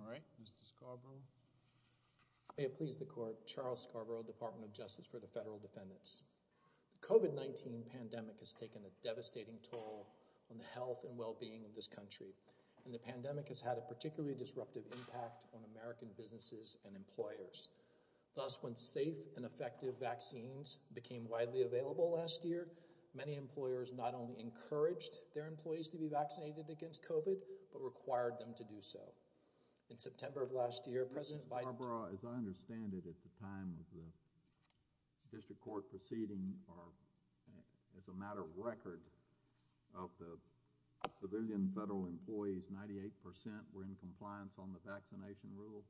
All right, Mr. Scarborough. May it please the court, Charles Scarborough, Department of Justice for the Federal Defendants. The COVID-19 pandemic has taken a devastating toll on the health and well-being of this country and the pandemic has had a particularly disruptive impact on American businesses and employers. Thus, when safe and effective vaccines became widely available last year, many employers not only encouraged their employees to be vaccinated against COVID, but required them to do so. In September of last year, President Biden... Mr. Scarborough, as I understand it, at the time of the district court proceeding, or as a matter of record, of the civilian federal employees, 98% were in compliance on the vaccination rule?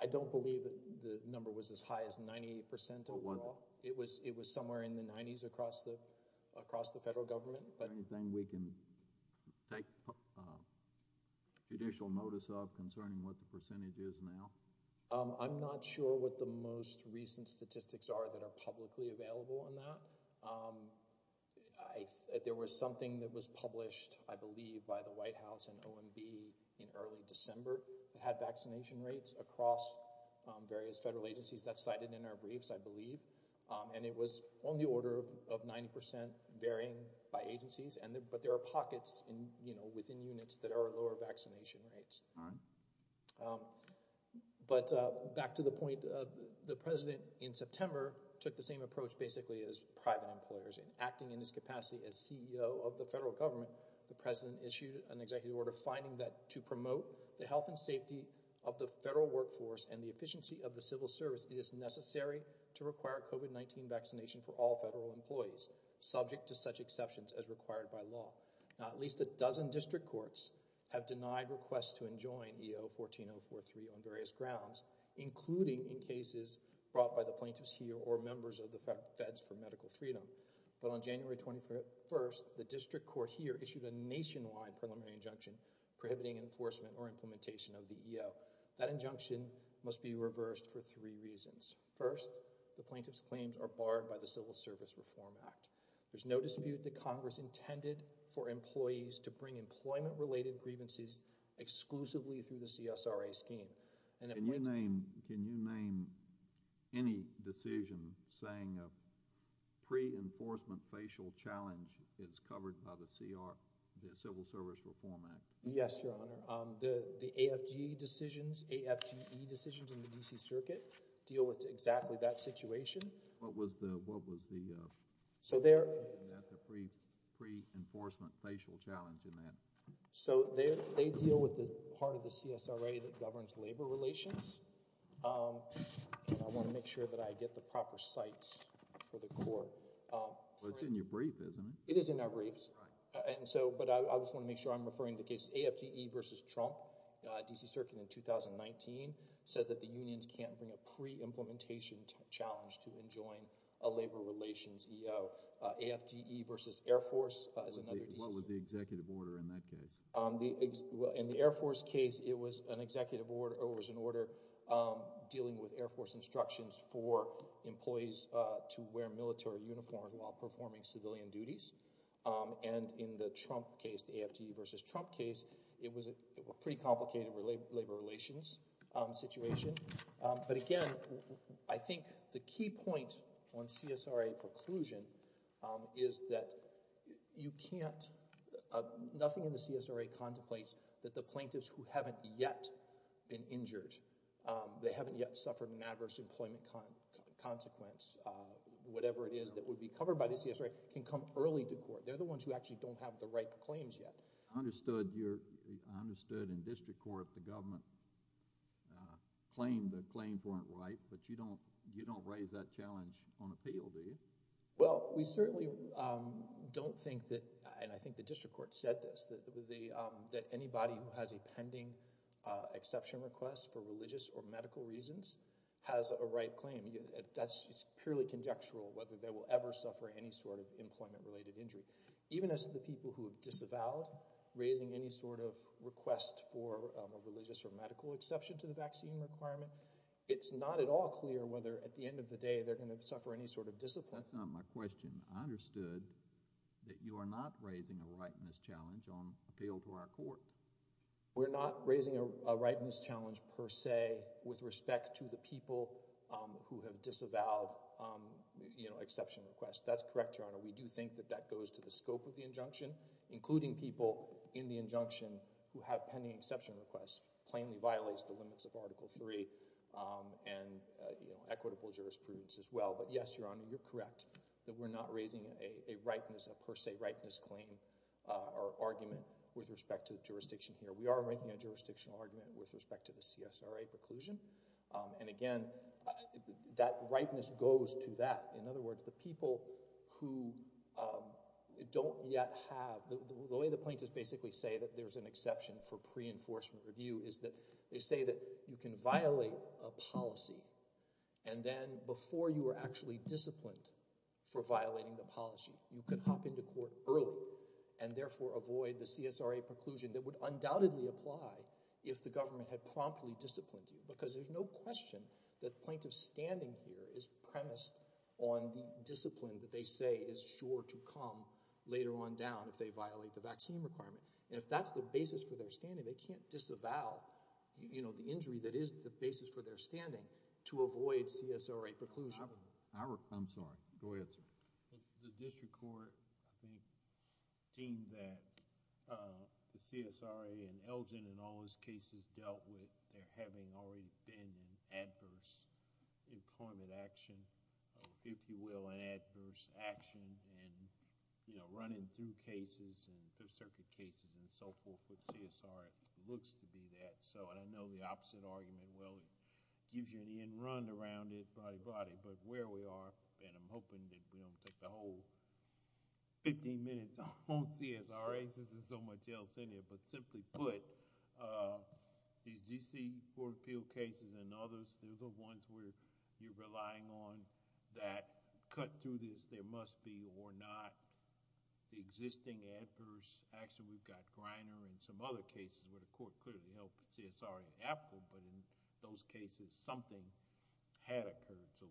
I don't believe that the number was as high as 98% overall. It was somewhere in the 90s across the federal government, but... Is there anything we can take judicial notice of concerning what the percentage is now? I'm not sure what the most recent statistics are that are publicly available on that. There was something that was published, I believe, by the White House and OMB in early December that had vaccination rates across various federal agencies that's cited in our briefs, I believe. And it was on the order of 90% varying by agencies, but there are pockets within units that are lower vaccination rates. But back to the point, the president in September took the same approach basically as private employers. In acting in his capacity as CEO of the federal government, the president issued an executive order finding that to promote the health and safety of the federal workforce and the efficiency of the civil service, it is necessary to require COVID-19 vaccination for all federal employees, subject to such exceptions as required by law. Now, at least a dozen district courts have denied requests to enjoin EO 14043 on various grounds, including in cases brought by the plaintiffs here or members of the feds for medical freedom. But on January 21st, the district court here issued a nationwide preliminary injunction prohibiting enforcement or implementation of the EO. That injunction must be reversed for three reasons. First, the plaintiff's claims are barred by the Civil Service Reform Act. There's no dispute that Congress intended for employees to bring employment-related grievances exclusively through the CSRA scheme. And the plaintiffs— Can you name any decision saying a pre-enforcement facial challenge is covered by the Civil Service Reform Act? Yes, Your Honor. The AFGE decisions, AFGE decisions in the D.C. Circuit deal with exactly that situation. What was the— So they're— What was the pre-enforcement facial challenge in that? So they deal with the part of the CSRA that governs labor relations, and I want to make sure that I get the proper cites for the court. Well, it's in your brief, isn't it? It is in our briefs. Right. But I just want to make sure I'm referring to the case AFGE v. Trump, D.C. Circuit in 2019, says that the unions can't bring a pre-implementation challenge to enjoin a labor relations EO. AFGE v. Air Force is another— What was the executive order in that case? In the Air Force case, it was an executive order, or it was an order dealing with Air Force instructions for employees to wear military uniforms while performing civilian duties. And in the Trump case, the AFGE v. Trump case, it was a pretty complicated labor relations situation. But again, I think the key point on CSRA preclusion is that you can't— Nothing in the CSRA contemplates that the plaintiffs who haven't yet been injured, they haven't yet suffered an adverse employment consequence, whatever it is that would be the plaintiff court. They're the ones who actually don't have the right claims yet. I understood in district court the government claimed the claims weren't right, but you don't raise that challenge on appeal, do you? Well, we certainly don't think that—and I think the district court said this—that anybody who has a pending exception request for religious or medical reasons has a right claim. It's purely conjectural whether they will ever suffer any sort of employment-related injury. Even as the people who have disavowed raising any sort of request for a religious or medical exception to the vaccine requirement, it's not at all clear whether at the end of the day they're going to suffer any sort of discipline. That's not my question. I understood that you are not raising a right in this challenge on appeal to our court. We're not raising a right in this challenge per se with respect to the people who have disavowed exception requests. That's correct, Your Honor. We do think that that goes to the scope of the injunction, including people in the injunction who have pending exception requests. It plainly violates the limits of Article III and equitable jurisprudence as well. But yes, Your Honor, you're correct that we're not raising a rightness, a per se rightness claim or argument with respect to the jurisdiction here. We are raising a jurisdictional argument with respect to the CSRA preclusion. And again, that rightness goes to that. In other words, the people who don't yet have—the way the plaintiffs basically say that there's an exception for pre-enforcement review is that they say that you can violate a policy and then before you are actually disciplined for violating the policy, you can hop into court early and therefore avoid the CSRA preclusion that would undoubtedly apply if the government had promptly disciplined you. Because there's no question that plaintiff's standing here is premised on the discipline that they say is sure to come later on down if they violate the vaccine requirement. And if that's the basis for their standing, they can't disavow the injury that is the basis for their standing to avoid CSRA preclusion. I'm sorry. Go ahead, sir. The district court, I think, deemed that the CSRA and Elgin and all those cases dealt with there having already been an adverse employment action, if you will, an adverse action and running through cases and Fifth Circuit cases and so forth. With CSRA, it looks to be that. And I know the opposite argument, well, it gives you an end run around it, body, body. But where we are, and I'm hoping that we don't take the whole fifteen minutes on CSRA since there's so much else in here, but simply put, these D.C. Court of Appeal cases and others, they're the ones where you're relying on that cut through this, there must be or not the existing adverse action. We've got Griner and some other cases where the court clearly helped CSRA and in those cases, something had occurred to...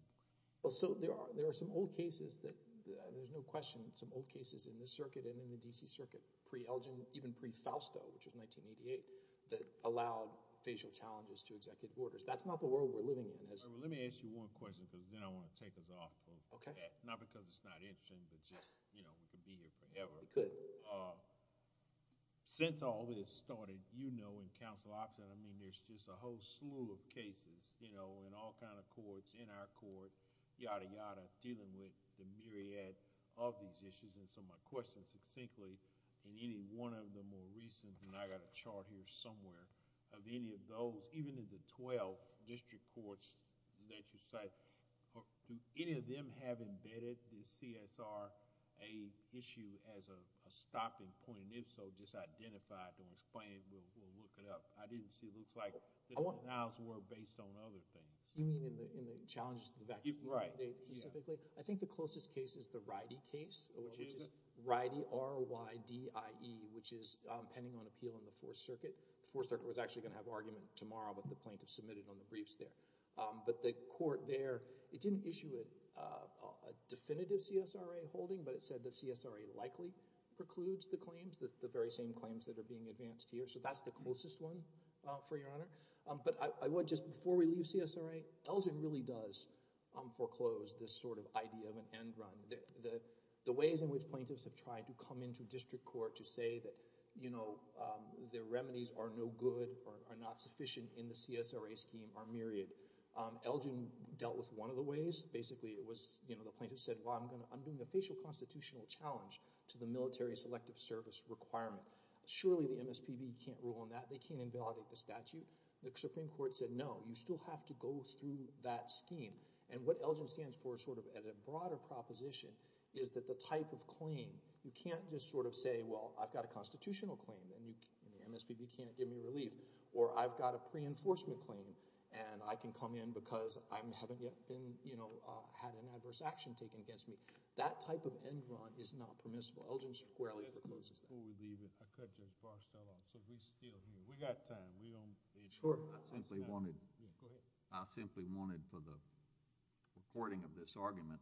There are some old cases that, there's no question, some old cases in this circuit and in the D.C. Circuit, pre-Elgin, even pre-Fausto, which was 1988, that allowed facial challenges to executive orders. That's not the world we're living in. Let me ask you one question because then I want to take us off. Okay. Not because it's not interesting, but just, you know, we could be here forever. We could. Since all this started, you know, in counsel option, I mean, there's just a whole slew of cases, you know, in all kind of courts, in our court, yada, yada, dealing with the myriad of these issues and so my question succinctly in any one of the more recent, and I got a chart here somewhere, of any of those, even in the twelve district courts that you cite, do any of them have embedded the CSRA issue as a stopping point? If so, just identify it or explain it. We'll look it up. I didn't see it looks like the denials were based on other things. You mean in the challenges to the vaccine mandate specifically? Right. Yeah. I think the closest case is the Rydie case, which is Rydie, R-Y-D-I-E, which is pending on appeal in the Fourth Circuit. The Fourth Circuit was actually going to have argument tomorrow, but the plaintiff submitted on the briefs there. But the court there, it didn't issue a definitive CSRA holding, but it said the CSRA likely precludes the claims, the very same claims that are being advanced here. So that's the closest one, for your honor. But I would just, before we leave CSRA, Elgin really does foreclose this sort of idea of an end run. The ways in which plaintiffs have tried to come into district court to say that, you know, the remedies are no good or are not sufficient in the CSRA scheme are myriad. Elgin dealt with one of the ways. Basically it was, you know, the plaintiff said, well, I'm doing a facial constitutional challenge to the military selective service requirement. Surely the MSPB can't rule on that. They can't invalidate the statute. The Supreme Court said, no, you still have to go through that scheme. And what Elgin stands for sort of at a broader proposition is that the type of claim, you can't just sort of say, well, I've got a constitutional claim and the MSPB can't give me relief, or I've got a pre-enforcement claim and I can come in because I haven't yet been, you know, had an adverse action taken against me. That type of end run is not permissible. Elgin squarely forecloses that. Before we leave it, I could just brush that off. So if we steal here, we've got time. Sure. I simply wanted for the recording of this argument,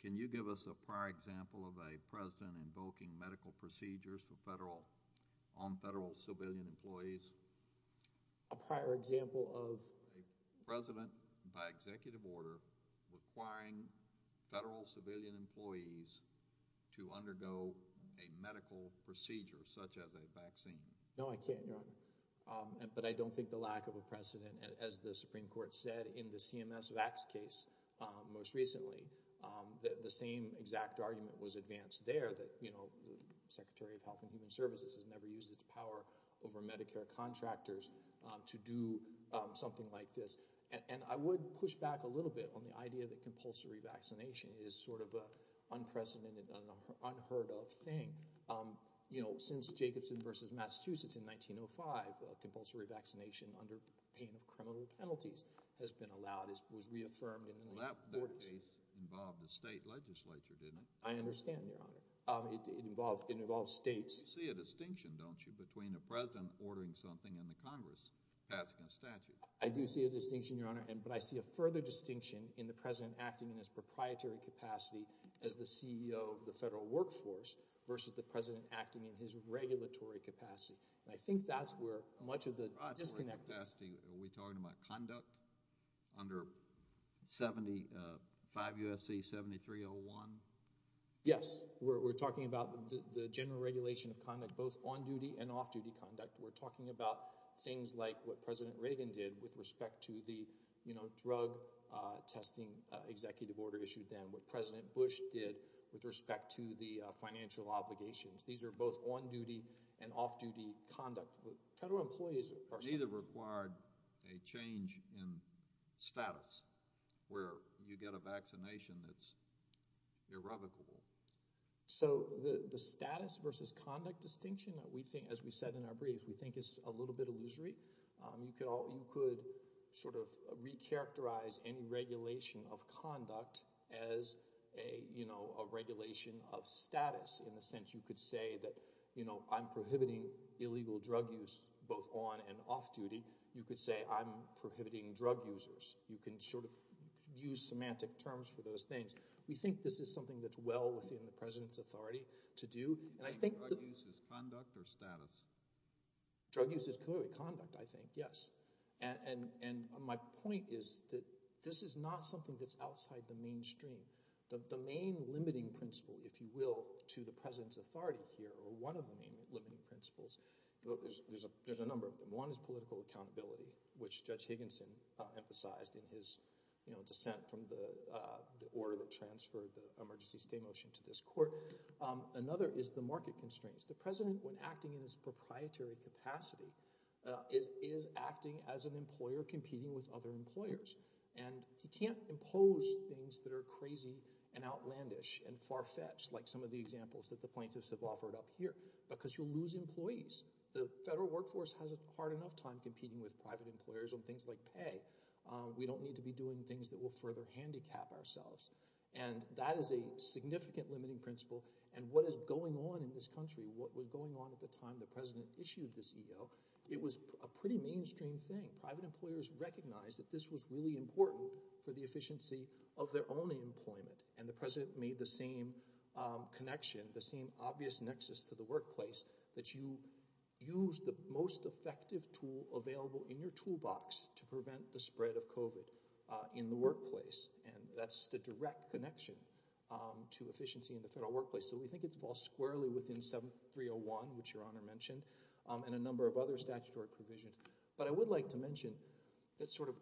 can you give us a prior example of a president invoking medical procedures on federal civilian employees? A prior example of? A president by executive order requiring federal civilian employees to undergo a medical procedure such as a vaccine. No, I can't, Your Honor. But I don't think the lack of a precedent, as the Supreme Court said, in the CMS VAX case most recently, the same exact argument was advanced there that, you know, the Secretary of Health and Human Services has never used its power over Medicare contractors to do something like this. And I would push back a little bit on the idea that compulsory vaccination is sort of an unprecedented, unheard of thing. You know, since Jacobson versus Massachusetts in 1905, compulsory vaccination under pain of criminal penalties has been allowed, it was reaffirmed in the late 40s. Well, that case involved a state legislature, didn't it? I understand, Your Honor. It involved states. You see a distinction, don't you, between a president ordering something and the Congress passing a statute? I do see a distinction, Your Honor, but I see a further distinction in the president acting in his proprietary capacity as the CEO of the federal workforce versus the president acting in his regulatory capacity. And I think that's where much of the disconnect is. Are we talking about conduct under 5 U.S.C. 7301? Yes. We're talking about the general regulation of conduct, both on-duty and off-duty conduct. We're talking about things like what President Reagan did with respect to the, you know, drug testing executive order issued then, what President Bush did with respect to the financial obligations. These are both on-duty and off-duty conduct. Neither required a change in status where you get a vaccination that's irrevocable. So the status versus conduct distinction, as we said in our brief, we think is a little bit illusory. You could sort of recharacterize any regulation of conduct as, you know, a regulation of status in the sense you could say that, you know, I'm prohibiting illegal drug use both on and off-duty. You could say I'm prohibiting drug users. You can sort of use semantic terms for those things. We think this is something that's well within the president's authority to do. Do you mean drug use as conduct or status? Drug use as conduct, I think, yes. And my point is that this is not something that's outside the mainstream. The main limiting principle, if you will, to the president's authority here or one of the main limiting principles, there's a number of them. One is political accountability, which Judge Higginson emphasized in his, you know, dissent from the order that transferred the emergency stay motion to this court. Another is the market constraints. The president, when acting in his proprietary capacity, is acting as an employer competing with other employers. And he can't impose things that are crazy and outlandish and far-fetched, like some of the examples that the plaintiffs have offered up here, because you'll lose employees. The federal workforce has a hard enough time competing with private employers on things like pay. We don't need to be doing things that will further handicap ourselves. And that is a significant limiting principle. And what is going on in this country, what was going on at the time the president issued this EO, it was a pretty mainstream thing. Private employers recognized that this was really important for the efficiency of their own employment. And the president made the same connection, the same obvious nexus to the workplace, that you use the most effective tool available in your toolbox to prevent the spread of COVID in the workplace. And that's the direct connection to efficiency in the federal workplace. So we think it falls squarely within 7301, which Your Honor mentioned, and a number of other statutory provisions. But I would like to mention that sort of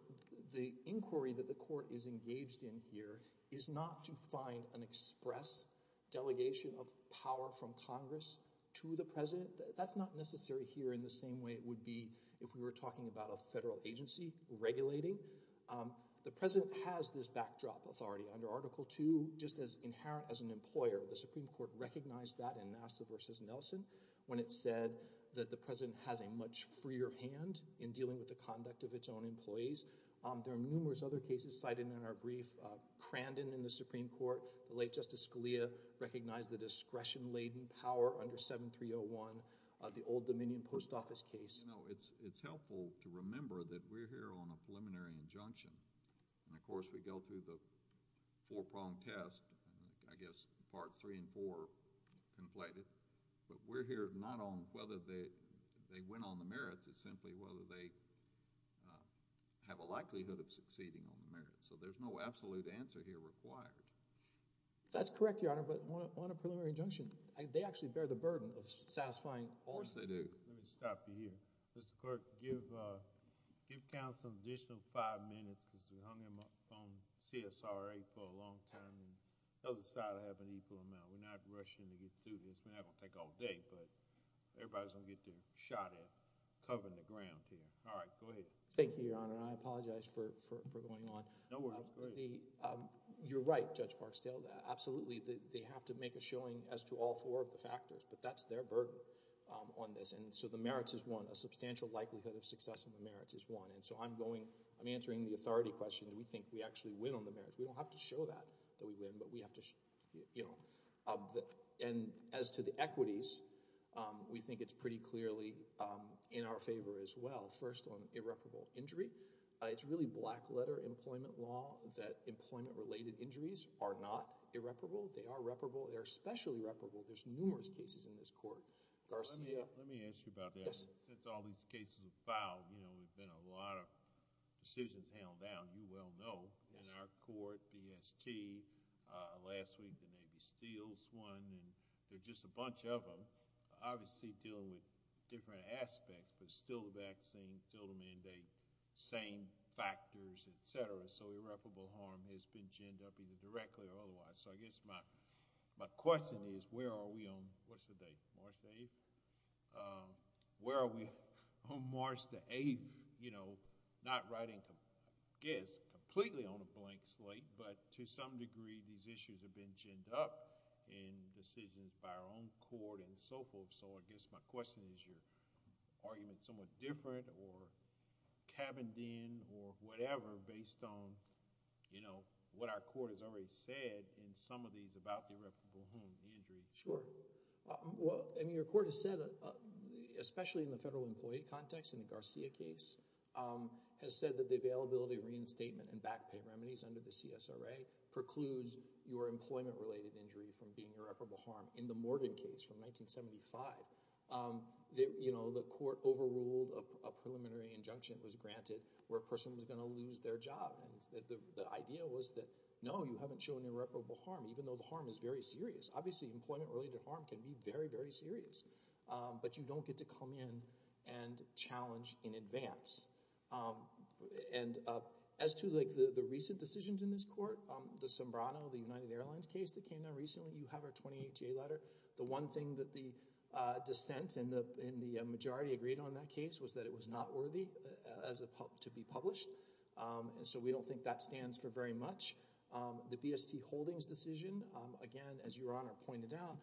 the inquiry that the court is engaged in here is not to find an express delegation of power from Congress to the president. That's not necessary here in the same way it would be if we were talking about a federal agency regulating. The president has this backdrop authority. Under Article II, just as inherent as an employer, the Supreme Court recognized that in Nassif v. Nelson when it said that the president has a much freer hand in dealing with the conduct of its own employees. There are numerous other cases cited in our brief. Crandon in the Supreme Court, the late Justice Scalia, recognized the discretion-laden power under 7301, the old Dominion Post Office case. It's helpful to remember that we're here on a preliminary injunction. And of course we go through the four-pronged test, I guess Parts 3 and 4 conflated. But we're here not on whether they went on the merits, it's simply whether they have a likelihood of succeeding on the merits. So there's no absolute answer here required. That's correct, Your Honor, but on a preliminary injunction, they actually bear the burden of satisfying all of them. Of course they do. Let me stop you here. Mr. Clerk, give counsel an additional five minutes because we hung him up on CSRA for a long time and the other side will have an equal amount. We're not rushing to get through this. We're not going to take all day, but everybody's going to get their shot at covering the ground here. All right, go ahead. Thank you, Your Honor. I apologize for going on. No worries. Go ahead. You're right, Judge Parkstale. Absolutely they have to make a showing as to all four of the factors, but that's their burden on this. And so the merits is one. A substantial likelihood of success on the merits is one. And so I'm answering the authority question. Do we think we actually win on the merits? We don't have to show that, that we win, but we have to, you know. And as to the equities, we think it's pretty clearly in our favor as well. First on irreparable injury, it's really black letter employment law that employment-related injuries are not irreparable. They are reparable. They're especially reparable. There's numerous cases in this court. Garcia. Let me ask you about that. Since all these cases have filed, you know, there's been a lot of decisions handled down, you well know, in our court, BST. Last week the Navy Steels won, and there's just a bunch of them. Obviously dealing with different aspects, but still the vaccine, still the mandate, same factors, et cetera. So irreparable harm has been ginned up either directly or otherwise. So I guess my question is where are we on, what's the date, March 8th? Where are we on March the 8th, you know, not writing, I guess, completely on a blank slate, but to some degree these issues have been ginned up in decisions by our own court and so forth. So I guess my question is your argument is somewhat different or cabined in or whatever based on, you know, what our court has already said in some of these about irreparable harm and injury. Sure. Well, I mean your court has said, especially in the federal employee context in the Garcia case, has said that the availability of reinstatement and back pay remedies under the CSRA precludes your employment-related injury from being irreparable harm. In the Morgan case from 1975, you know, the court overruled a preliminary injunction that was granted where a person was going to lose their job. And the idea was that, no, you haven't shown irreparable harm, even though the harm is very serious. Obviously, employment-related harm can be very, very serious, but you don't get to come in and challenge in advance. And as to, like, the recent decisions in this court, the Sombrano, the United Airlines case that came out recently, you have our 28-J letter. The one thing that the dissent in the majority agreed on in that case was that it was not worthy to be published, and so we don't think that stands for very much. The BST Holdings decision, again, as Your Honour pointed out,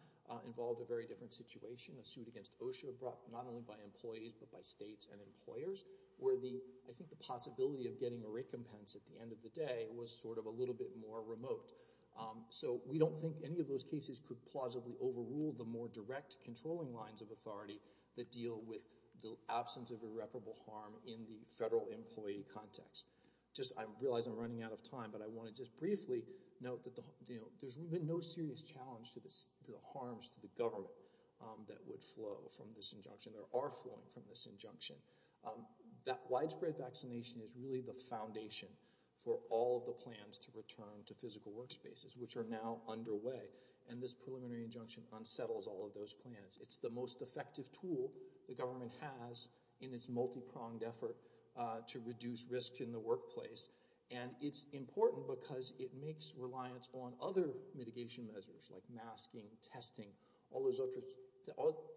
involved a very different situation, a suit against OSHA brought not only by employees, but by states and employers, where I think the possibility of getting a recompense at the end of the day was sort of a little bit more remote. So we don't think any of those cases could plausibly overrule the more direct controlling lines of authority that deal with the absence of irreparable harm in the federal employee context. I realise I'm running out of time, but I wanted to just briefly note that there's been no serious challenge to the harms to the government that would flow from this injunction. There are flowing from this injunction. That widespread vaccination is really the foundation for all of the plans to return to physical workspaces, which are now underway, and this preliminary injunction unsettles all of those plans. It's the most effective tool the government has in its multi-pronged effort to reduce risk in the workplace, and it's important because it makes reliance on other mitigation measures like masking, testing, all those other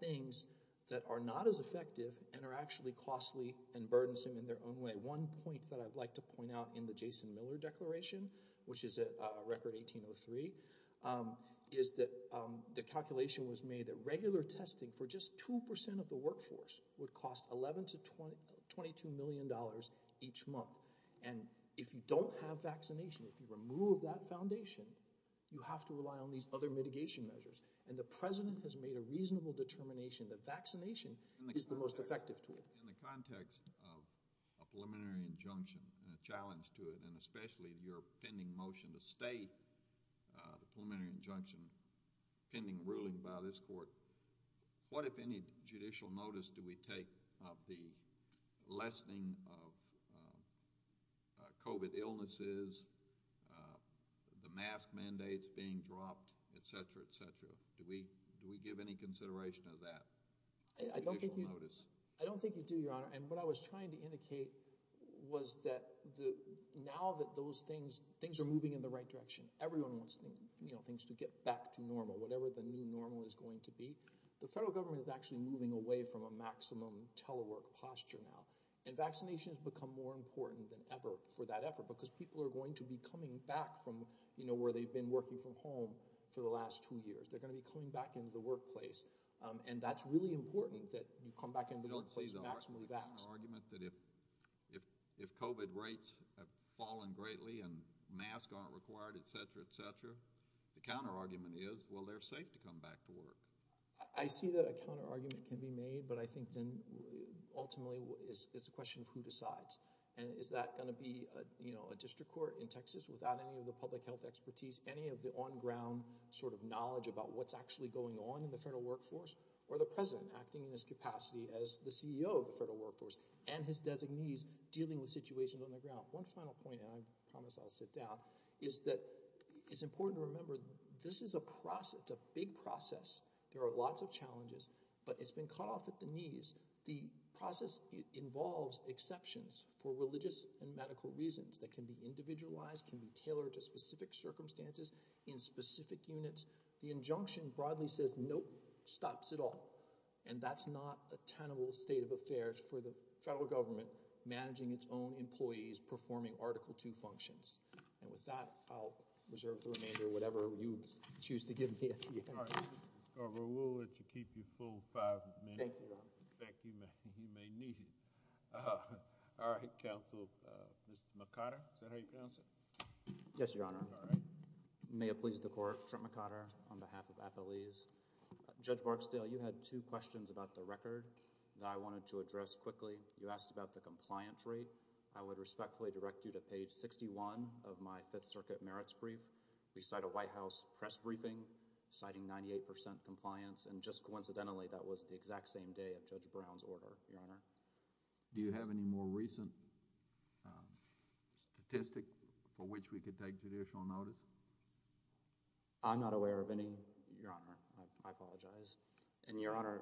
things that are not as effective and are actually costly and burdensome in their own way. One point that I'd like to point out in the Jason Miller Declaration, which is a record 1803, is that the calculation was made that regular testing for just 2% of the workforce would cost $11 million to $22 million each month, and if you don't have vaccination, if you remove that foundation, you have to rely on these other mitigation measures, and the president has made a reasonable determination that vaccination is the most effective tool. In the context of a preliminary injunction and a challenge to it, and especially your pending motion to stay the preliminary injunction pending ruling by this court, what, if any, judicial notice do we take of the lessening of COVID illnesses, the mask mandates being dropped, etc., etc.? Do we give any consideration of that? I don't think you do, Your Honor, and what I was trying to indicate was that now that those things are moving in the right direction, everyone wants things to get back to normal, whatever the new normal is going to be, the federal government is actually moving away from a maximum telework posture now, and vaccination has become more important than ever for that effort because people are going to be coming back from where they've been working from home for the last 2 years. They're going to be coming back into the workplace, and that's really important that you come back into the workplace maximally vaxxed. I don't see the argument that if COVID rates have fallen greatly and masks aren't required, etc., etc., the counterargument is, well, they're safe to come back to work. I see that a counterargument can be made, but I think then ultimately it's a question of who decides, and is that going to be a district court in Texas without any of the public health expertise, any of the on-ground sort of knowledge about what's actually going on in the federal workforce, or the president acting in his capacity as the CEO of the federal workforce and his designees dealing with situations on the ground? One final point, and I promise I'll sit down, is that it's important to remember this is a process, it's a big process, there are lots of challenges, but it's been cut off at the knees. The process involves exceptions for religious and medical reasons that can be individualized, can be tailored to specific circumstances in specific units. The injunction broadly says, nope, stops it all, and that's not a tenable state of affairs for the federal government managing its own employees performing Article 2 functions. And with that, I'll reserve the remainder, whatever you choose to give me at the end. All right, Mr. Garber, we'll let you keep your full five minutes. Thank you, Your Honor. In fact, you may need it. All right, Counsel, Mr. McConner, is that how you pronounce it? Yes, Your Honor. All right. May it please the Court, Trent McConner on behalf of Appalese. Judge Barksdale, you had two questions about the record that I wanted to address quickly. You asked about the compliance rate. I would respectfully direct you to page 61 of my Fifth Circuit merits brief. We cite a White House press briefing citing 98% compliance, and just coincidentally that was the exact same day of Judge Brown's order, Your Honor. Do you have any more recent statistic for which we could take judicial notice? I'm not aware of any, Your Honor. I apologize. And Your Honor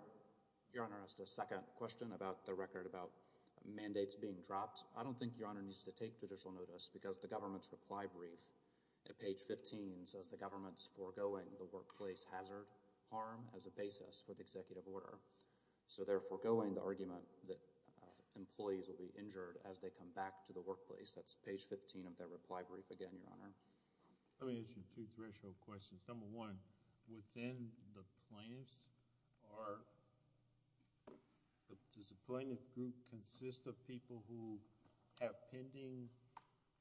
asked a second question about the record about mandates being dropped. I don't think, Your Honor, needs to take judicial notice because the government's reply brief at page 15 says the government's foregoing the workplace hazard harm as a basis for the executive order. So they're foregoing the argument that employees will be injured as they come back to the workplace. That's page 15 of their reply brief again, Your Honor. Let me ask you two threshold questions. Number one, within the plaintiffs, does the plaintiff group consist of people who have pending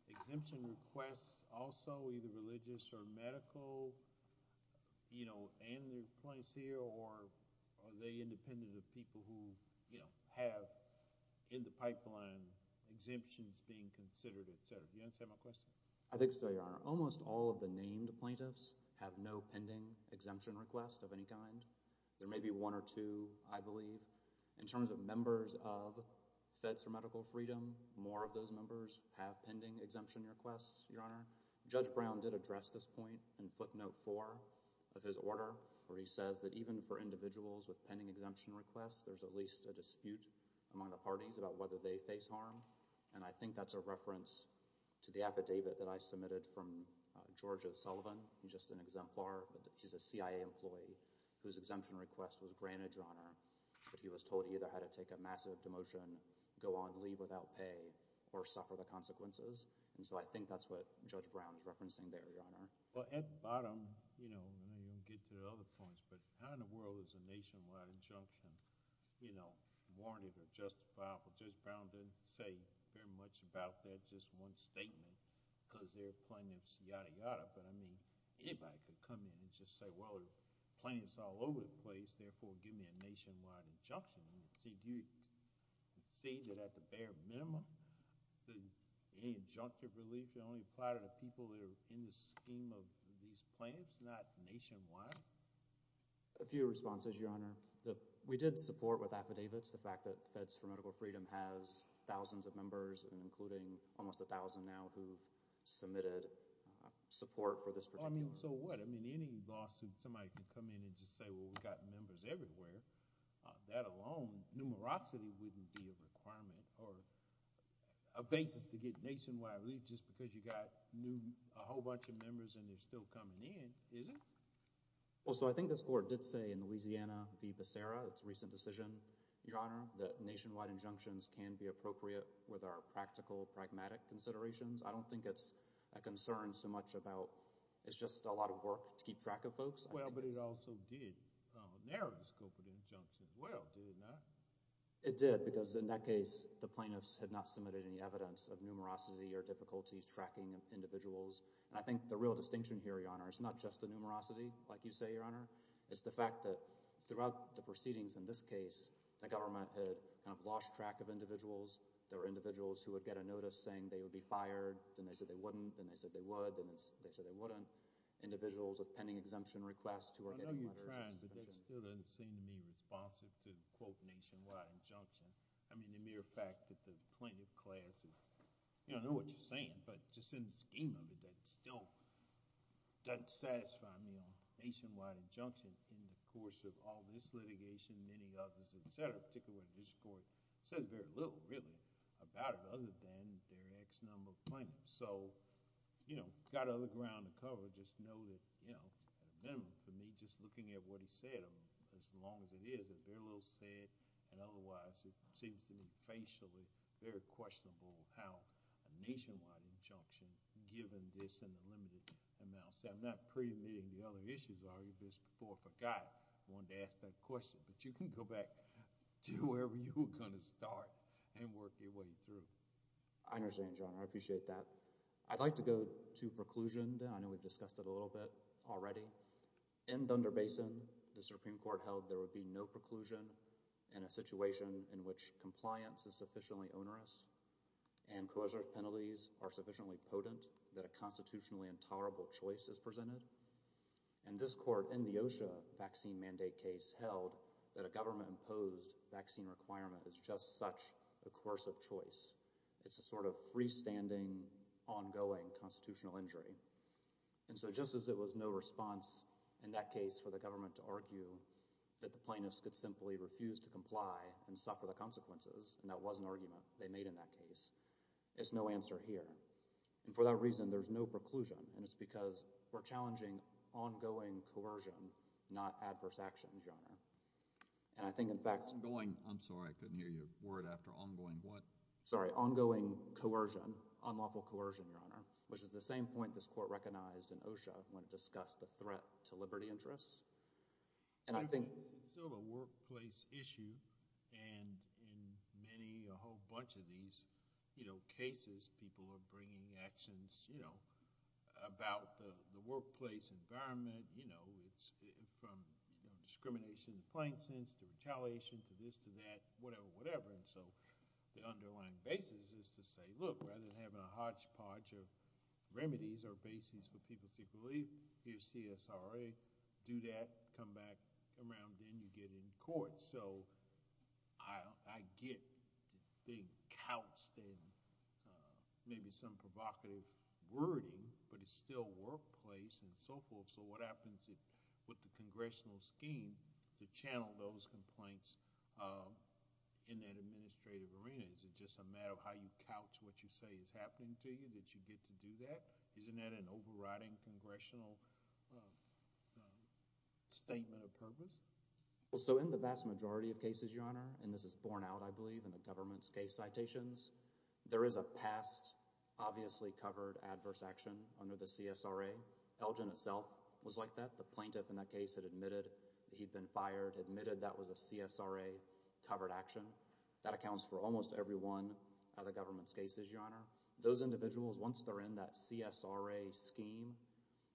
exemption requests also, either religious or medical, and the plaintiff's here, or are they independent of people who have in the pipeline exemptions being considered, et cetera? Do you understand my question? I think so, Your Honor. Almost all of the named plaintiffs have no pending exemption request of any kind. There may be one or two, I believe. In terms of members of Feds for Medical Freedom, more of those members have pending exemption requests, Your Honor. Judge Brown did address this point in footnote 4 of his order where he says that even for individuals with pending exemption requests, there's at least a dispute among the parties about whether they face harm, and I think that's a reference to the affidavit that I submitted from George O'Sullivan, who's just an exemplar, but he's a CIA employee, whose exemption request was granted, Your Honor, but he was told either had to take a massive demotion, go on leave without pay, or suffer the consequences, and so I think that's what Judge Brown is referencing there, Your Honor. Well, at the bottom, you know, and then you'll get to the other points, but how in the world is a nationwide injunction, you know, warranted or justifiable? Judge Brown didn't say very much about that, it was just one statement, because they're plaintiffs, yada, yada, but I mean, anybody could come in and just say, well, the plaintiff's all over the place, therefore give me a nationwide injunction. Do you see that at the bare minimum, that any injunctive relief can only apply to the people that are in the scheme of these plaintiffs, not nationwide? A few responses, Your Honor. We did support with affidavits the fact that Feds for Medical Freedom has thousands of members, including almost 1,000 now, who've submitted support for this particular case. I mean, so what? I mean, any lawsuit, somebody can come in and just say, well, we've got members everywhere. That alone, numerosity wouldn't be a requirement, or a basis to get nationwide relief, just because you got a whole bunch of members and they're still coming in, is it? in Louisiana v. Becerra, its recent decision, Your Honor, that nationwide injunctions can be appropriate with our practical, pragmatic considerations. I don't think it's a concern so much about, it's just a lot of work to keep track of folks. Well, but it also did narrow the scope of the injunction. Well, did it not? It did, because in that case, the plaintiffs had not submitted any evidence of numerosity or difficulty tracking individuals. And I think the real distinction here, Your Honor, is not just the numerosity, like you say, Your Honor, it's the fact that throughout the proceedings in this case, the government had kind of lost track of individuals. There were individuals who would get a notice saying they would be fired, then they said they wouldn't, then they said they would, then they said they wouldn't. Individuals with pending exemption requests who were getting letters. I know you're trying, but that still doesn't seem to me responsive to quote nationwide injunction. I mean, the mere fact that the plaintiff class is, I don't know what you're saying, but just in the scheme of it, that still doesn't satisfy me on nationwide injunction in the course of all this litigation, many others, et cetera, particularly with this court. It says very little, really, about it other than their X number of plaintiffs. So, you know, got other ground to cover, just know that, you know, at a minimum, for me, just looking at what he said, as long as it is, it's very little said, and otherwise it seems to me facially very questionable how a nationwide injunction, given this in a limited amount. See, I'm not preemitting the other issues, I've argued this before, I forgot I wanted to ask that question, but you can go back to wherever you were gonna start and work your way through. I understand, Your Honor. I appreciate that. I'd like to go to preclusion then. I know we've discussed it a little bit already. In Thunder Basin, the Supreme Court held there would be no preclusion in a situation in which compliance is sufficiently onerous and coercive penalties are sufficiently potent that a constitutionally intolerable choice is presented. And this court, in the OSHA vaccine mandate case, held that a government-imposed vaccine requirement is just such a coercive choice. It's a sort of freestanding, ongoing constitutional injury. And so just as there was no response in that case for the government to argue that the plaintiffs could simply refuse to comply and suffer the consequences, and that was an argument they made in that case, there's no answer here. And for that reason, there's no preclusion, and it's because we're challenging ongoing coercion, not adverse actions, Your Honor. And I think, in fact— Ongoing—I'm sorry. I couldn't hear your word after ongoing what? Sorry. Ongoing coercion, unlawful coercion, Your Honor, which is the same point this court recognized in OSHA when it discussed the threat to liberty interests. And I think— It's still a workplace issue, and in many, a whole bunch of these, you know, cases, people are bringing actions, you know, about the workplace environment, you know, from discrimination in the plain sense to retaliation to this to that, whatever, whatever. And so the underlying basis is to say, look, rather than having a hodgepodge of remedies or bases for people to seek relief, here's CSRA, do that, come back, come around, then you get in court. So I get the big couched maybe some provocative wording, but it's still workplace and so forth, so what happens with the congressional scheme to channel those complaints in that administrative arena? Is it just a matter of how you couch what you say is happening to you that you get to do that? Isn't that an overriding congressional statement of purpose? Well, so in the vast majority of cases, Your Honor, and this is borne out, I believe, in the government's case citations, there is a past obviously covered adverse action under the CSRA. Elgin itself was like that. The plaintiff in that case had admitted he'd been fired, admitted that was a CSRA covered action. That accounts for almost every one of the government's cases, Your Honor. Those individuals, once they're in that CSRA scheme,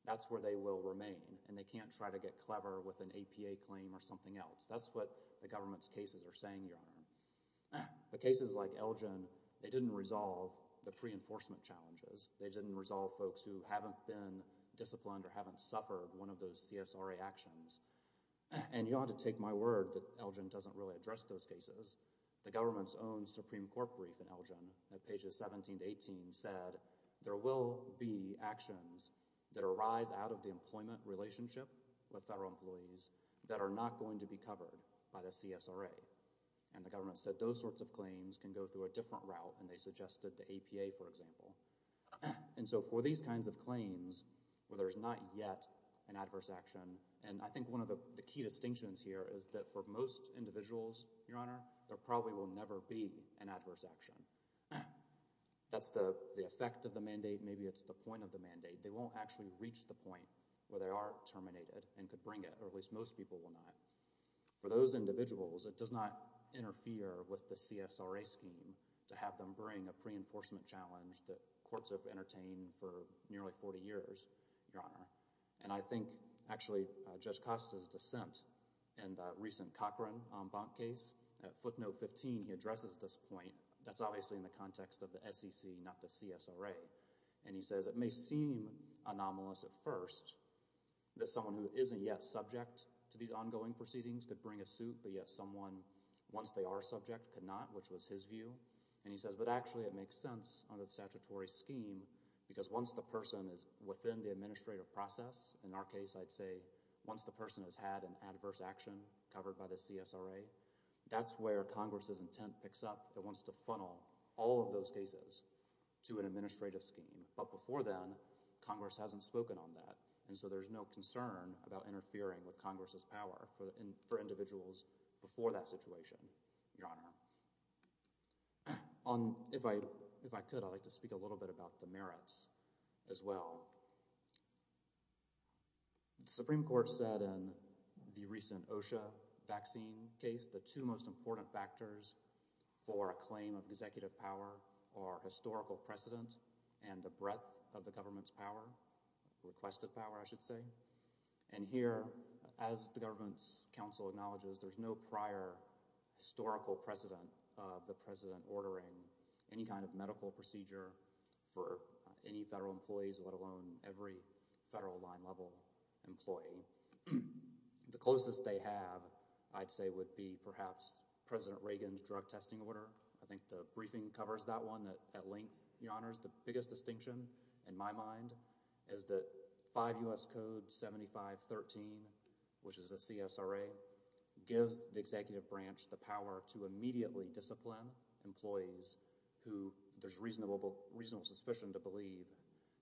that's where they will remain, and they can't try to get clever with an APA claim or something else. That's what the government's cases are saying, Your Honor. The cases like Elgin, they didn't resolve the pre-enforcement challenges. They didn't resolve folks who haven't been disciplined or haven't suffered one of those CSRA actions, and you don't have to take my word that Elgin doesn't really address those cases. The government's own Supreme Court brief in Elgin at pages 17 to 18 said there will be actions that arise out of the employment relationship with federal employees that are not going to be covered by the CSRA, and the government said those sorts of claims can go through a different route, and they suggested the APA, for example. And so for these kinds of claims where there's not yet an adverse action, and I think one of the key distinctions here is that for most individuals, Your Honor, there probably will never be an adverse action. That's the effect of the mandate. Maybe it's the point of the mandate. They won't actually reach the point where they are terminated and could bring it, or at least most people will not. For those individuals, it does not interfere with the CSRA scheme to have them bring a pre-enforcement challenge that courts have entertained for nearly 40 years, Your Honor. And I think actually Judge Costa's dissent in the recent Cochran-Ombank case, at footnote 15, he addresses this point. That's obviously in the context of the SEC, not the CSRA, and he says it may seem anomalous at first that someone who isn't yet subject to these ongoing proceedings could bring a suit, but yet someone, once they are subject, could not, which was his view. And he says, but actually it makes sense under the statutory scheme because once the person is within the administrative process, in our case, I'd say, once the person has had an adverse action covered by the CSRA, that's where Congress's intent picks up. It wants to funnel all of those cases to an administrative scheme. But before then, Congress hasn't spoken on that. And so there's no concern about interfering with Congress's power for individuals before that situation, Your Honor. If I could, I'd like to speak a little bit about the merits as well. The Supreme Court said in the recent OSHA vaccine case the two most important factors for a claim of executive power are historical precedent and the breadth of the government's power, requested power, I should say. And here, as the government's counsel acknowledges, there's no prior historical precedent of the president ordering any kind of medical procedure for any federal employees, let alone every federal line level employee. The closest they have, I'd say, would be perhaps President Reagan's drug testing order. I think the briefing covers that one at length, Your Honor. The biggest distinction, in my mind, is that 5 U.S. Code 7513, which is the CSRA, gives the executive branch the power to immediately discipline employees who there's reasonable suspicion to believe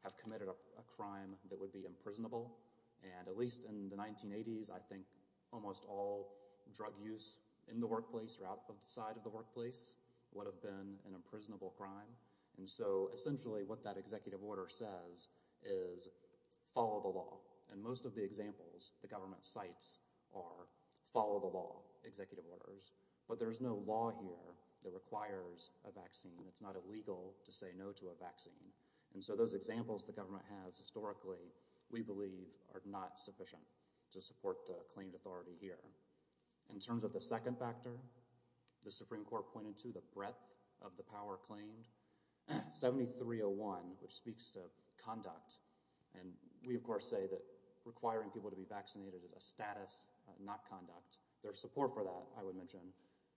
have committed a crime that would be imprisonable. And at least in the 1980s, I think almost all drug use in the workplace or outside of the workplace would have been an imprisonable crime. And so essentially what that executive order says is follow the law. And most of the examples the government cites are follow the law executive orders. But there's no law here that requires a vaccine. It's not illegal to say no to a vaccine. And so those examples the government has historically, we believe, are not sufficient to support the claimed authority here. In terms of the second factor, the Supreme Court pointed to the breadth of the power claimed. 7301, which speaks to conduct. And we, of course, say that requiring people to be vaccinated is a status, not conduct. There's support for that, I would mention.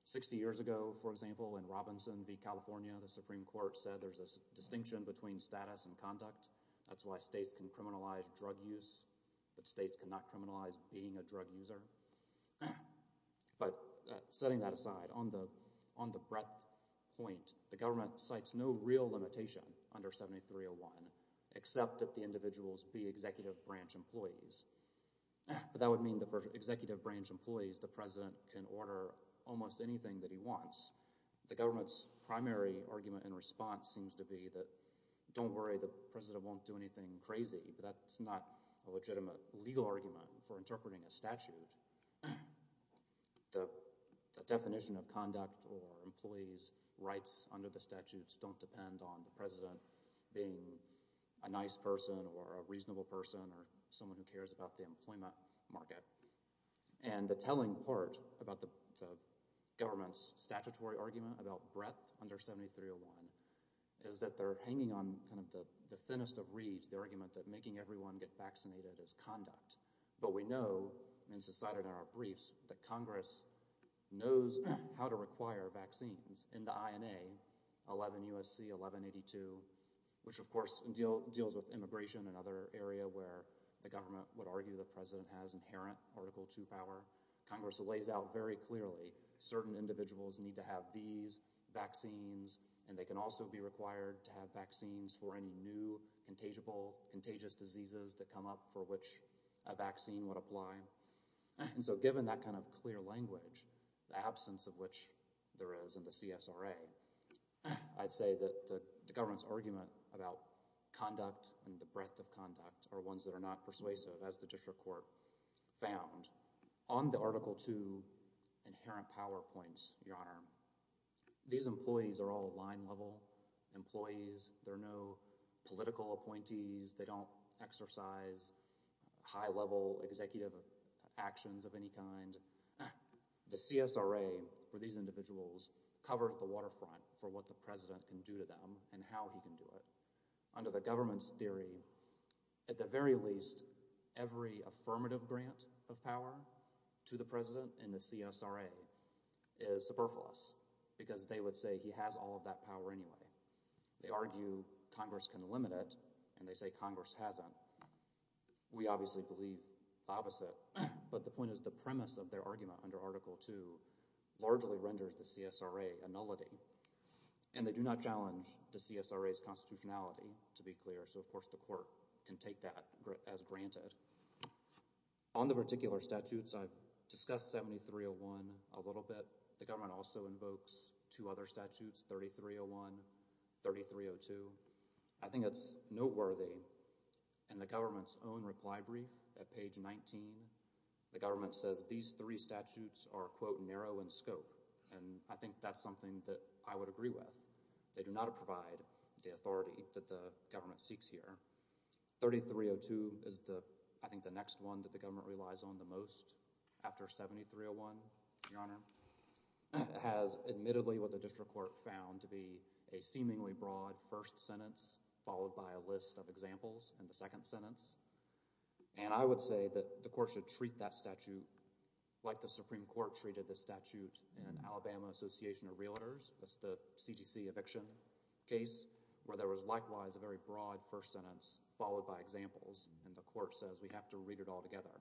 60 years ago, for example, in Robinson v. California, the Supreme Court said there's a distinction between status and conduct. That's why states can criminalize drug use, but states cannot criminalize being a drug user. But setting that aside, on the breadth point, the government cites no real limitation under 7301 except that the individuals be executive branch employees. But that would mean that for executive branch employees, the president can order almost anything that he wants. The government's primary argument in response seems to be that don't worry, the president won't do anything crazy, but that's not a legitimate legal argument for interpreting a statute. The definition of conduct or employees' rights under the statutes don't depend on the president being a nice person or a reasonable person or someone who cares about the employment market. And the telling part about the government's statutory argument about breadth under 7301 is that they're hanging on kind of the thinnest of reeds, the argument that making everyone get vaccinated is conduct. But we know in society in our briefs that Congress knows how to require vaccines in the INA, 11 U.S.C., 1182, which of course deals with immigration and other area where the government would argue the president has inherent Article II power. Congress lays out very clearly certain individuals need to have these vaccines, and they can also be required to have vaccines for any new contagious diseases that come up for which a vaccine would apply. And so given that kind of clear language, the absence of which there is in the CSRA, I'd say that the government's argument about conduct and the breadth of conduct are ones that are not persuasive, as the district court found. On the Article II inherent power points, Your Honor, these employees are all line-level employees. They're no political appointees. They don't exercise high-level executive actions of any kind. The CSRA, for these individuals, covers the waterfront for what the president can do to them and how he can do it. Under the government's theory, at the very least, every affirmative grant of power to the president in the CSRA is superfluous because they would say he has all of that power anyway. They argue Congress can limit it, and they say Congress hasn't. We obviously believe the opposite, but the point is the premise of their argument under Article II largely renders the CSRA a nullity, and they do not challenge the CSRA's constitutionality, to be clear, so of course the court can take that as granted. On the particular statutes, I've discussed 7301 a little bit. The government also invokes two other statutes, 3301, 3302. I think it's noteworthy in the government's own reply brief at page 19, the government says these three statutes are, quote, narrow in scope, and I think that's something that I would agree with. They do not provide the authority that the government seeks here. 3302 is, I think, the next one that the government relies on the most, after 7301, Your Honor, has admittedly what the district court found to be a seemingly broad first sentence followed by a list of examples in the second sentence, and I would say that the court should treat that statute like the Supreme Court treated the statute in Alabama Association of Realtors. That's the CDC eviction case where there was likewise a very broad first sentence followed by examples, and the court says we have to read it all together.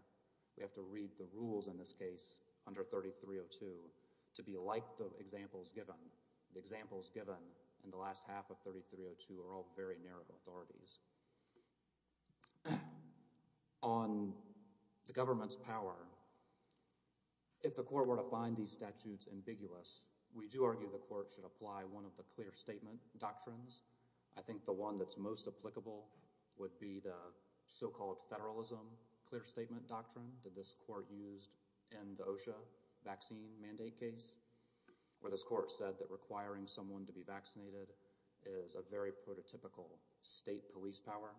We have to read the rules in this case under 3302 to be like the examples given. The examples given in the last half of 3302 are all very narrow authorities. On the government's power, if the court were to find these statutes ambiguous, we do argue the court should apply one of the clear statement doctrines. I think the one that's most applicable would be the so-called federalism clear statement doctrine that this court used in the OSHA vaccine mandate case where this court said that requiring someone to be vaccinated is a very prototypical state police power,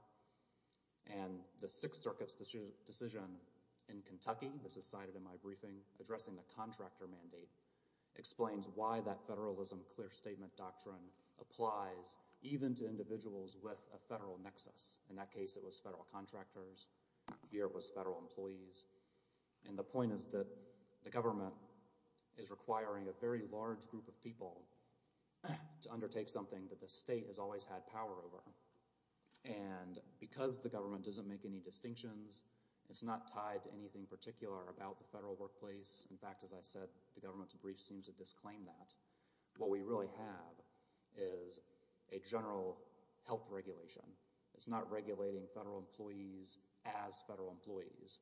and the Sixth Circuit's decision in Kentucky, this is cited in my briefing, addressing the contractor mandate explains why that federalism clear statement doctrine applies even to individuals with a federal nexus. In that case, it was federal contractors. Here it was federal employees, and the point is that the government is requiring a very large group of people to undertake something that the state has always had power over, and because the government doesn't make any distinctions, it's not tied to anything particular about the federal workplace. In fact, as I said, the government's brief seems to disclaim that. What we really have is a general health regulation. It's not regulating federal employees as federal employees.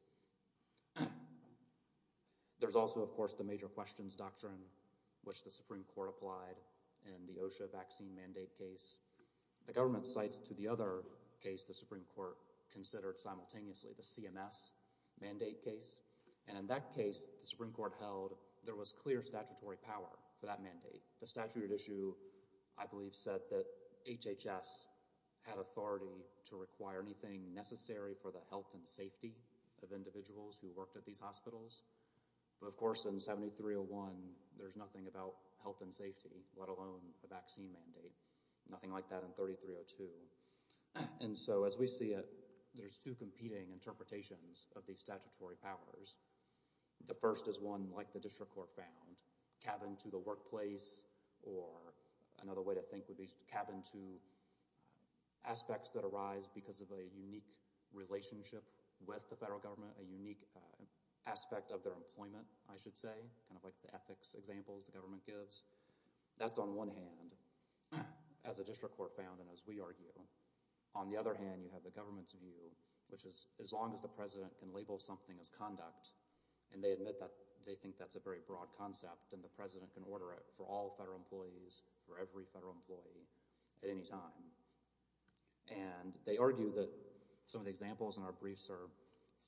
There's also, of course, the major questions doctrine, which the Supreme Court applied in the OSHA vaccine mandate case. The government cites to the other case the Supreme Court considered simultaneously, the CMS mandate case, and in that case, the Supreme Court held that there was clear statutory power for that mandate. The statute at issue, I believe, said that HHS had authority to require anything necessary for the health and safety of individuals who worked at these hospitals. But, of course, in 7301, there's nothing about health and safety, let alone a vaccine mandate. Nothing like that in 3302. And so as we see it, there's two competing interpretations of these statutory powers. The first is one like the district court found, cabin to the workplace, or another way to think would be cabin to aspects that arise because of a unique relationship with the federal government, a unique aspect of their employment, I should say, kind of like the ethics examples the government gives. That's on one hand, as the district court found and as we argue. On the other hand, you have the government's view, which is as long as the president can label something as conduct, and they admit that they think that's a very broad concept, then the president can order it for all federal employees, for every federal employee at any time. And they argue that some of the examples in our briefs are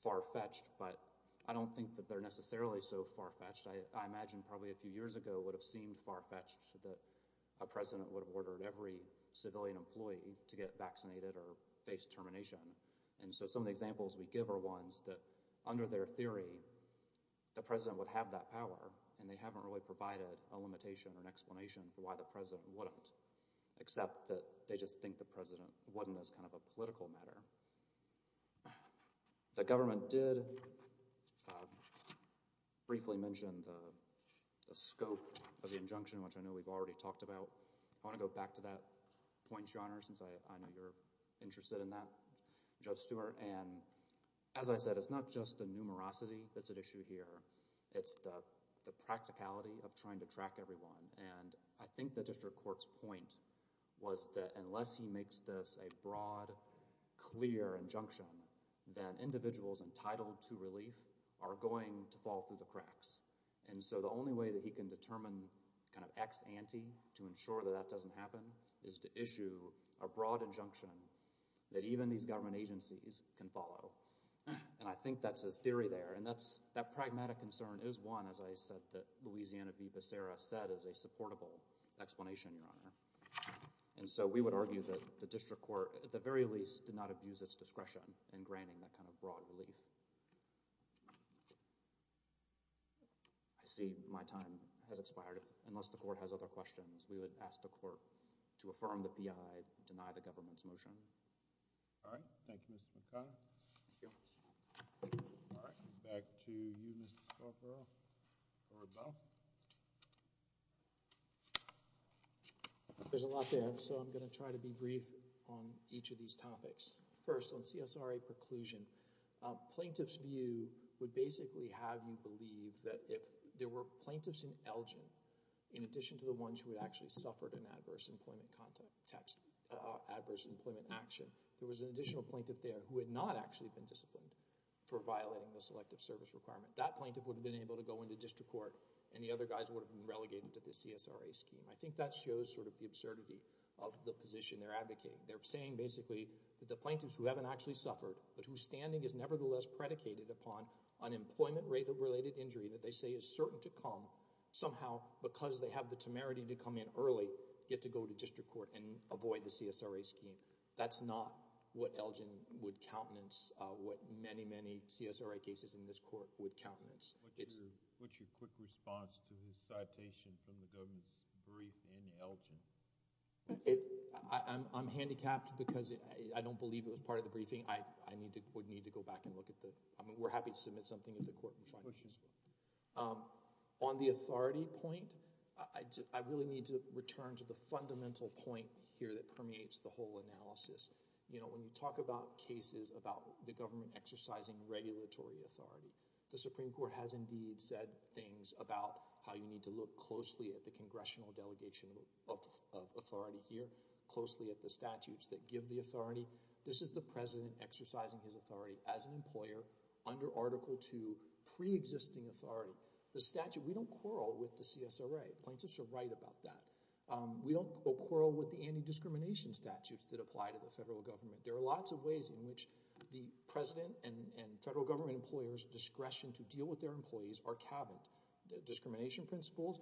far-fetched, but I don't think that they're necessarily so far-fetched. I imagine probably a few years ago it would have seemed far-fetched that a president would have ordered every civilian employee to get vaccinated or face termination. And so some of the examples we give are ones that, under their theory, the president would have that power, and they haven't really provided a limitation or an explanation for why the president wouldn't, except that they just think the president wasn't as kind of a political matter. The government did briefly mention the scope of the injunction, which I know we've already talked about. I want to go back to that point, Your Honor, since I know you're interested in that, Judge Stewart. And as I said, it's not just the numerosity that's at issue here. It's the practicality of trying to track everyone. And I think the district court's point was that unless he makes this a broad, clear injunction, then individuals entitled to relief are going to fall through the cracks. And so the only way that he can determine kind of ex ante to ensure that that doesn't happen is to issue a broad injunction that even these government agencies can follow. And I think that's his theory there. And that pragmatic concern is one, as I said, that Louisiana v. Becerra said is a supportable explanation, Your Honor. And so we would argue that the district court, at the very least, did not abuse its discretion in granting that kind of broad relief. I see my time has expired. Unless the court has other questions, we would ask the court to affirm the P.I., deny the government's motion. All right. Thank you, Mr. McConnell. Thank you. All right. Back to you, Mr. Scarborough or Bell. There's a lot there, so I'm going to try to be brief on each of these topics. First, on CSRA preclusion. Plaintiff's view would basically have you believe that if there were plaintiffs in Elgin, in addition to the ones who had actually suffered an adverse employment action, there was an additional plaintiff there who had not actually been disciplined for violating the selective service requirement. That plaintiff would have been able to go into district court, and the other guys would have been relegated to the CSRA scheme. I think that shows sort of the absurdity of the position they're advocating. They're saying, basically, that the plaintiffs who haven't actually suffered but whose standing is nevertheless predicated upon unemployment-related injury that they say is certain to come, somehow, because they have the temerity to come in early, get to go to district court and avoid the CSRA scheme. That's not what Elgin would countenance, what many, many CSRA cases in this court would countenance. What's your quick response to the citation from the government's brief in Elgin? I think I would need to go back and look at the... I mean, we're happy to submit something to the court and find out. On the authority point, I really need to return to the fundamental point here that permeates the whole analysis. You know, when you talk about cases about the government exercising regulatory authority, the Supreme Court has indeed said things about how you need to look closely at the congressional delegation of authority here, closely at the statutes that give the authority. This is the president exercising his authority as an employer under Article II pre-existing authority. The statute, we don't quarrel with the CSRA. Plaintiffs are right about that. We don't quarrel with the anti-discrimination statutes that apply to the federal government. There are lots of ways in which the president and federal government employers' discretion to deal with their employees are cabined. The discrimination principles,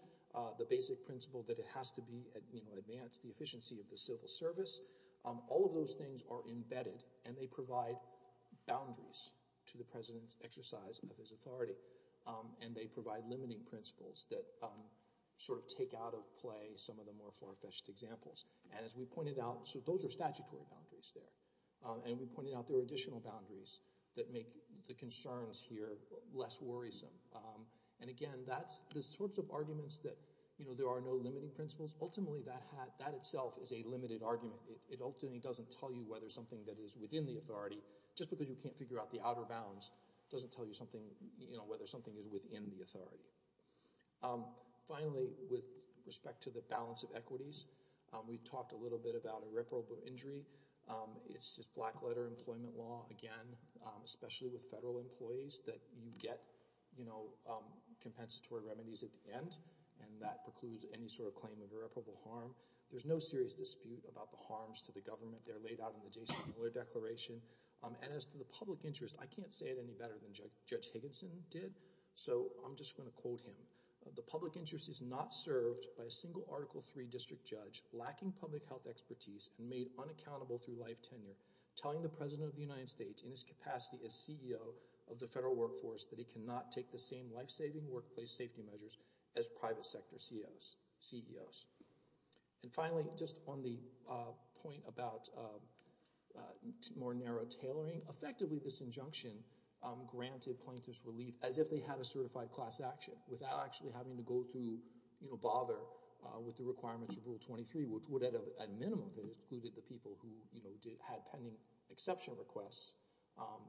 the basic principle that it has to advance the efficiency of the civil service, all of those things are embedded, and they provide boundaries to the president's exercise of his authority. And they provide limiting principles that sort of take out of play some of the more far-fetched examples. And as we pointed out, so those are statutory boundaries there. And we pointed out there are additional boundaries that make the concerns here less worrisome. And again, the sorts of arguments that, you know, there are no limiting principles, ultimately that itself is a limited argument. It ultimately doesn't tell you whether something that is within the authority, just because you can't figure out the outer bounds, doesn't tell you whether something is within the authority. Finally, with respect to the balance of equities, we talked a little bit about irreparable injury. It's just black-letter employment law, again, especially with federal employees, that you get compensatory remedies at the end, and that precludes any sort of claim of irreparable harm. There's no serious dispute about the harms to the government. They're laid out in the Jason Miller Declaration. And as to the public interest, I can't say it any better than Judge Higginson did, so I'm just going to quote him. The public interest is not served by a single Article III district judge lacking public health expertise and made unaccountable through life tenure, telling the president of the United States, in his capacity as CEO of the federal workforce, that he cannot take the same life-saving workplace safety measures as private sector CEOs. And finally, just on the point about more narrow tailoring, effectively this injunction granted plaintiffs relief as if they had a certified class action, without actually having to go through, you know, bother with the requirements of Rule 23, which would at a minimum have excluded the people who had pending exception requests,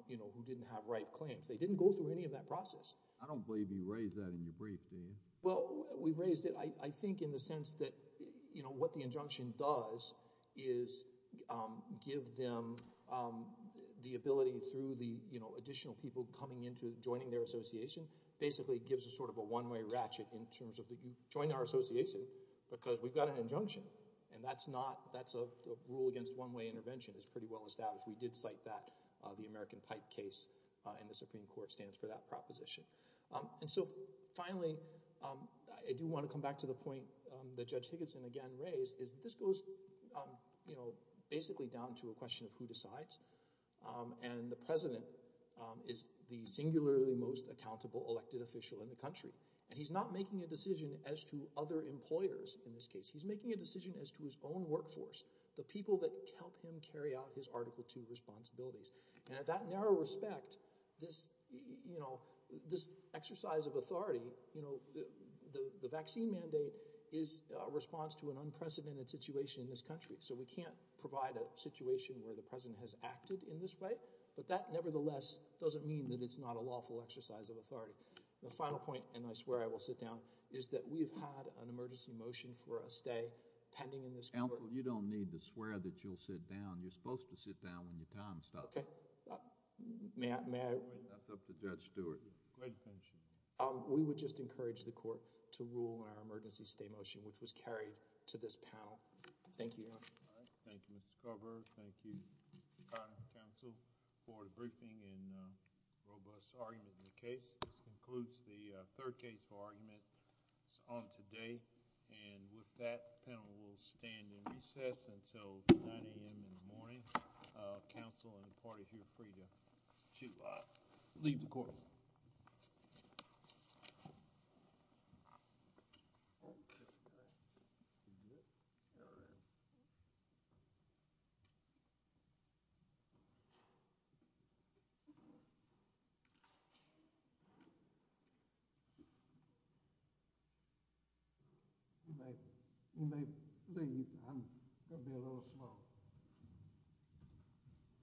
you know, who didn't have right claims. They didn't go through any of that process. I don't believe you raised that in your brief, do you? Well, we raised it, I think, in the sense that, you know, what the injunction does is give them the ability through the, you know, additional people coming into, joining their association, basically gives a sort of a one-way ratchet in terms of that you join our association because we've got an injunction. And that's not, that's a rule against one-way intervention. It's pretty well established. We did cite that. The American Pipe case in the Supreme Court stands for that proposition. And so, finally, I do want to come back to the point that Judge Higginson again raised, is this goes, you know, basically down to a question of who decides. And the president is the singularly most accountable elected official in the country. And he's not making a decision as to other employers, in this case. He's making a decision as to his own workforce, the people that help him carry out his Article II responsibilities. And at that narrow respect, this, you know, this exercise of authority, you know, the vaccine mandate is a response to an unprecedented situation in this country. So we can't provide a situation where the president has acted in this way. But that, nevertheless, doesn't mean that it's not a lawful exercise of authority. The final point, and I swear I will sit down, is that we've had an emergency motion for a stay pending in this court. Counsel, you don't need to swear that you'll sit down. You're supposed to sit down when your time stops. Okay. May I? That's up to Judge Stewart. Great attention. We would just encourage the court to rule on our emergency stay motion, which was carried to this panel. Thank you, Your Honor. Thank you, Mr. Carver. Thank you, Mr. Conner, counsel, for the briefing and robust argument in the case. This concludes the third case for argument on today. And with that, the panel will stand in recess until 9 a.m. in the morning. Counsel and the party are free to leave the courtroom. You may leave. I'm going to be a little slow.